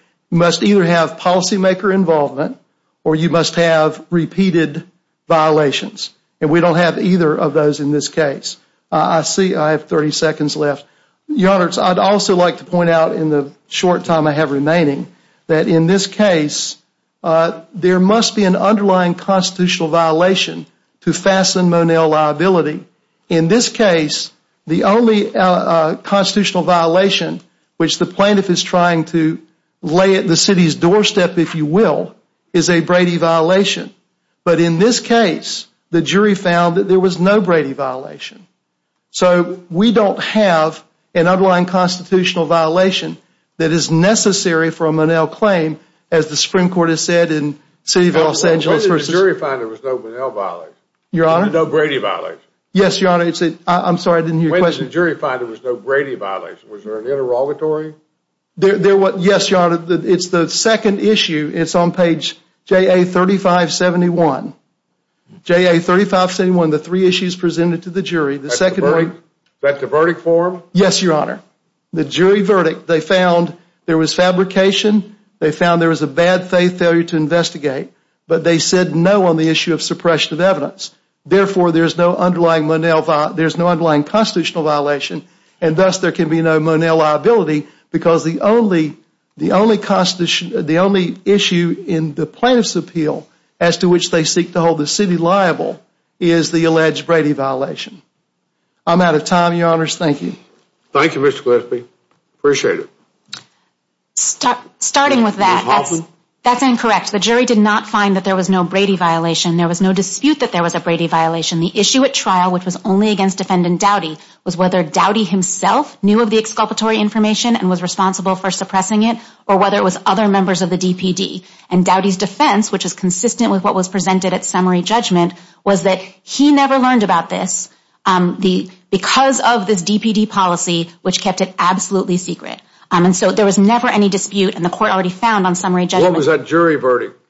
have policy maker involvement or you must have repeated violations. And we don't have either of those in this case. I see I have 30 seconds left. Your honor, I'd also like to point out in the short time I have remaining that in this case, there must be an underlying constitutional violation to fasten Monell liability. In this case, the only constitutional violation, which the plaintiff is trying to lay at the city's doorstep, if you will, is a Brady violation. But in this case, the jury found that there was no Brady violation. So we don't have an underlying constitutional violation that is necessary for a Monell claim, as the Supreme Court has said in City of Los Angeles. The jury found there was no Monell violation. Your honor. No Brady violation. Yes, your honor. I'm sorry, I didn't hear your question. The jury found there was no Brady violation. Was there an interrogatory? Yes, your honor. It's the second issue. It's on page JA 3571. JA 3571, the three issues presented to the jury. Is that the verdict form? Yes, your honor. The jury verdict. They found there was fabrication. They found there was a bad faith failure to investigate. But they said no on the issue of suppression of evidence. Therefore, there's no underlying Monell. There's no underlying constitutional violation. And thus, there can be no Monell liability. Because the only issue in the plaintiff's appeal as to which they seek to hold the city liable is the alleged Brady violation. I'm out of time, your honors. Thank you. Thank you, Mr. Gillespie. Appreciate it. Starting with that, that's incorrect. The jury did not find that there was no Brady violation. There was no dispute that there was a Brady violation. The issue at trial, which was only against defendant Doughty, was whether Doughty himself knew of the exculpatory information and was responsible for suppressing it. Or whether it was other members of the DPD. And Doughty's defense, which is consistent with what was presented at summary judgment, was that he never learned about this because of this DPD policy, which kept it absolutely secret. And so there was never any dispute. And the court already found on summary judgment. What was that jury verdict?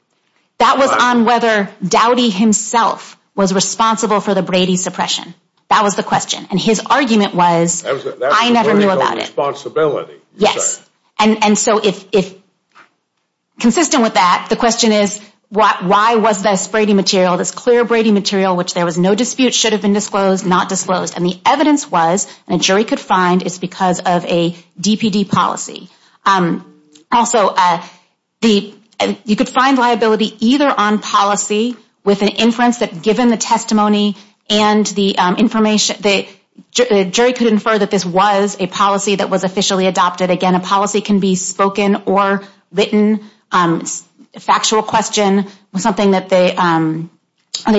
That was on whether Doughty himself was responsible for the Brady suppression. That was the question. And his argument was, I never knew about it. Responsibility. Yes. And so if consistent with that, the question is why was this Brady material, this clear Brady material, which there was no dispute, should have been disclosed, not disclosed. And the evidence was, and a jury could find, it's because of a DPD policy. Also, you could find liability either on policy with an inference that given the testimony and the information, the jury could infer that this was a policy that was officially adopted. Again, a policy can be spoken or written. Factual question, something that they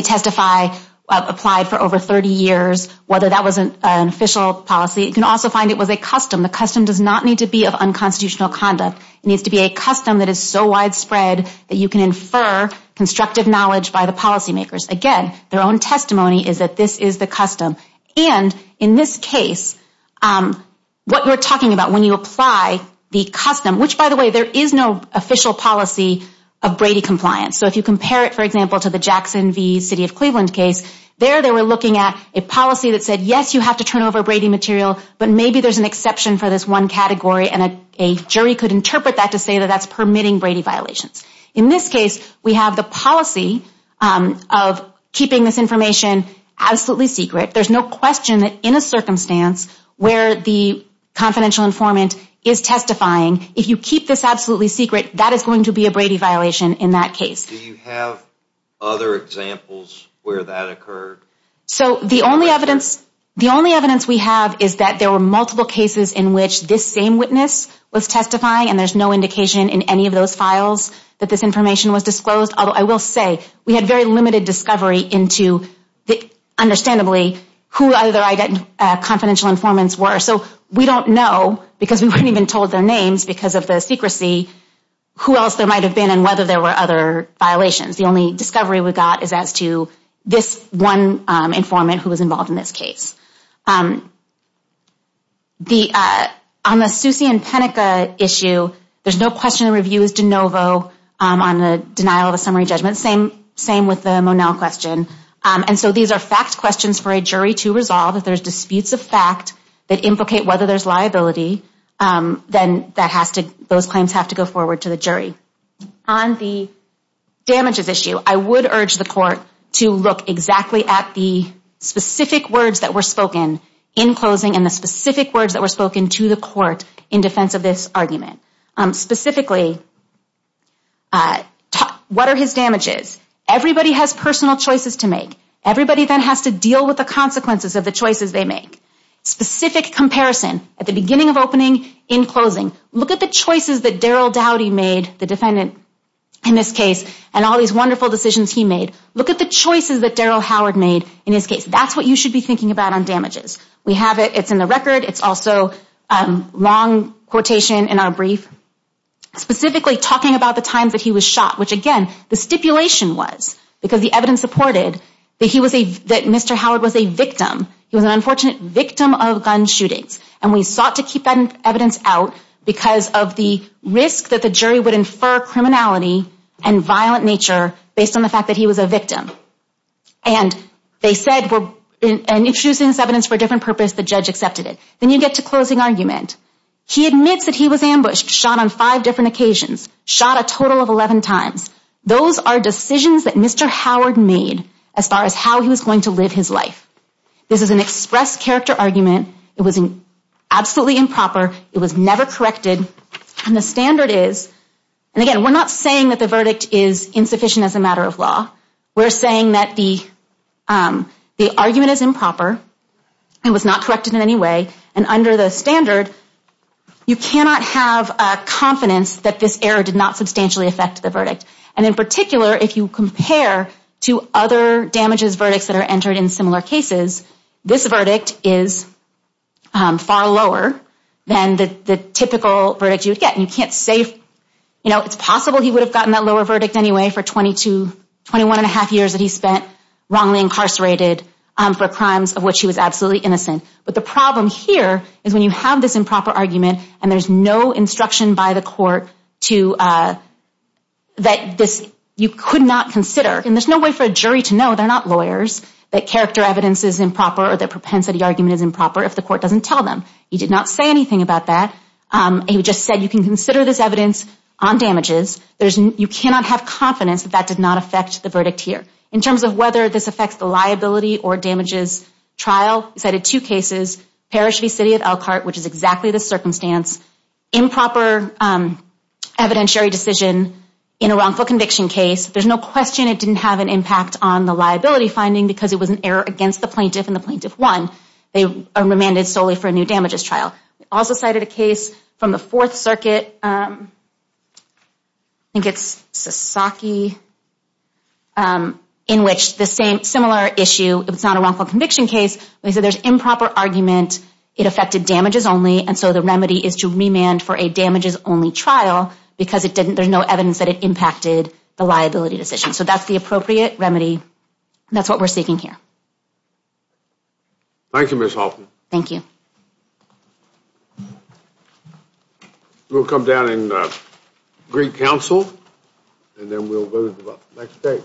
testify applied for over 30 years, whether that was an official policy. It can also find it was a custom. The custom does not need to be of unconstitutional conduct. It needs to be a custom that is so widespread that you can infer constructive knowledge by the policymakers. Again, their own testimony is that this is the custom. And in this case, what we're talking about when you apply the custom, which by the way, there is no official policy of Brady compliance. So if you compare it, for example, to the Jackson v. City of Cleveland case, there they were looking at a policy that said, yes, you have to turn over Brady material, but maybe there's an exception for this one category. And a jury could interpret that to say that that's permitting Brady violations. In this case, we have the policy of keeping this information absolutely secret. There's no question that in a circumstance where the confidential informant is testifying, if you keep this absolutely secret, that is going to be a Brady violation in that case. Do you have other examples where that occurred? So the only evidence we have is that there were multiple cases in which this same witness was testifying, and there's no indication in any of those files that this information was disclosed. Although I will say, we had very limited discovery into, understandably, who the other confidential informants were. So we don't know, because we weren't even told their names because of the secrecy, who else there might have been and whether there were other violations. The only discovery we got is as to this one informant who was involved in this case. On the Susie and Penica issue, there's no question the review is de novo on the denial of a summary judgment. Same with the Monell question. And so these are fact questions for a jury to resolve. If there's disputes of fact that implicate whether there's liability, then that has to, those claims have to go forward to the jury. On the damages issue, I would urge the court to look exactly at the specific words that were spoken in closing and the specific words that were spoken to the court in defense of this argument. Specifically, what are his damages? Everybody has personal choices to make. Everybody then has to deal with the consequences of the choices they make. Specific comparison at the beginning of opening, in closing. Look at the choices that Daryl Dowdy made, the defendant in this case, and all these wonderful decisions he made. Look at the choices that Daryl Howard made in his case. That's what you should be thinking about on damages. We have it. It's in the record. It's also a long quotation in our brief. Specifically talking about the times that he was shot, which again, the stipulation was because the evidence supported that he was a, that Mr. Howard was a victim. He was an unfortunate victim of gun shootings. And we sought to keep that evidence out because of the risk that the jury would infer criminality and violent nature based on the fact that he was a victim. And they said, we're introducing this evidence for a different purpose. The judge accepted it. Then you get to closing argument. He admits that he was ambushed, shot on five different occasions, shot a total of 11 times. Those are decisions that Mr. Howard made as far as how he was going to live his life. This is an express character argument. It was absolutely improper. It was never corrected. And the standard is, and again, we're not saying that the verdict is insufficient as a matter of law. We're saying that the argument is improper. It was not corrected in any way. And under the standard, you cannot have confidence that this error did not substantially affect the verdict. And in particular, if you compare to other damages verdicts that are entered in similar cases, this verdict is far lower than the typical verdict you would get. And you can't say, you know, it's possible he would have gotten that lower verdict anyway for 21 and a half years that he spent wrongly incarcerated for crimes of which he was absolutely innocent. But the problem here is when you have this improper argument and there's no instruction by the court that you could not consider. And there's no way for a jury to know. They're not lawyers. That character evidence is improper or the propensity argument is improper if the court doesn't tell them. He did not say anything about that. He just said you can consider this evidence on damages. You cannot have confidence that that did not affect the verdict here. In terms of whether this affects the liability or damages trial, he cited two cases. Parish v. City of Elkhart, which is exactly the circumstance. Improper evidentiary decision in a wrongful conviction case. There's no question it didn't have an impact on the liability finding because it was an error against the plaintiff and the plaintiff won. They were remanded solely for a new damages trial. He also cited a case from the Fourth Circuit, I think it's Sasaki, in which the same similar issue, it's not a wrongful conviction case, but he said there's improper argument. It affected damages only. And so the remedy is to remand for a damages only trial because there's no evidence that it impacted the liability decision. So that's the appropriate remedy. That's what we're seeking here. Thank you, Ms. Hoffman. Thank you. We'll come down in Greek Council and then we'll move to the next case.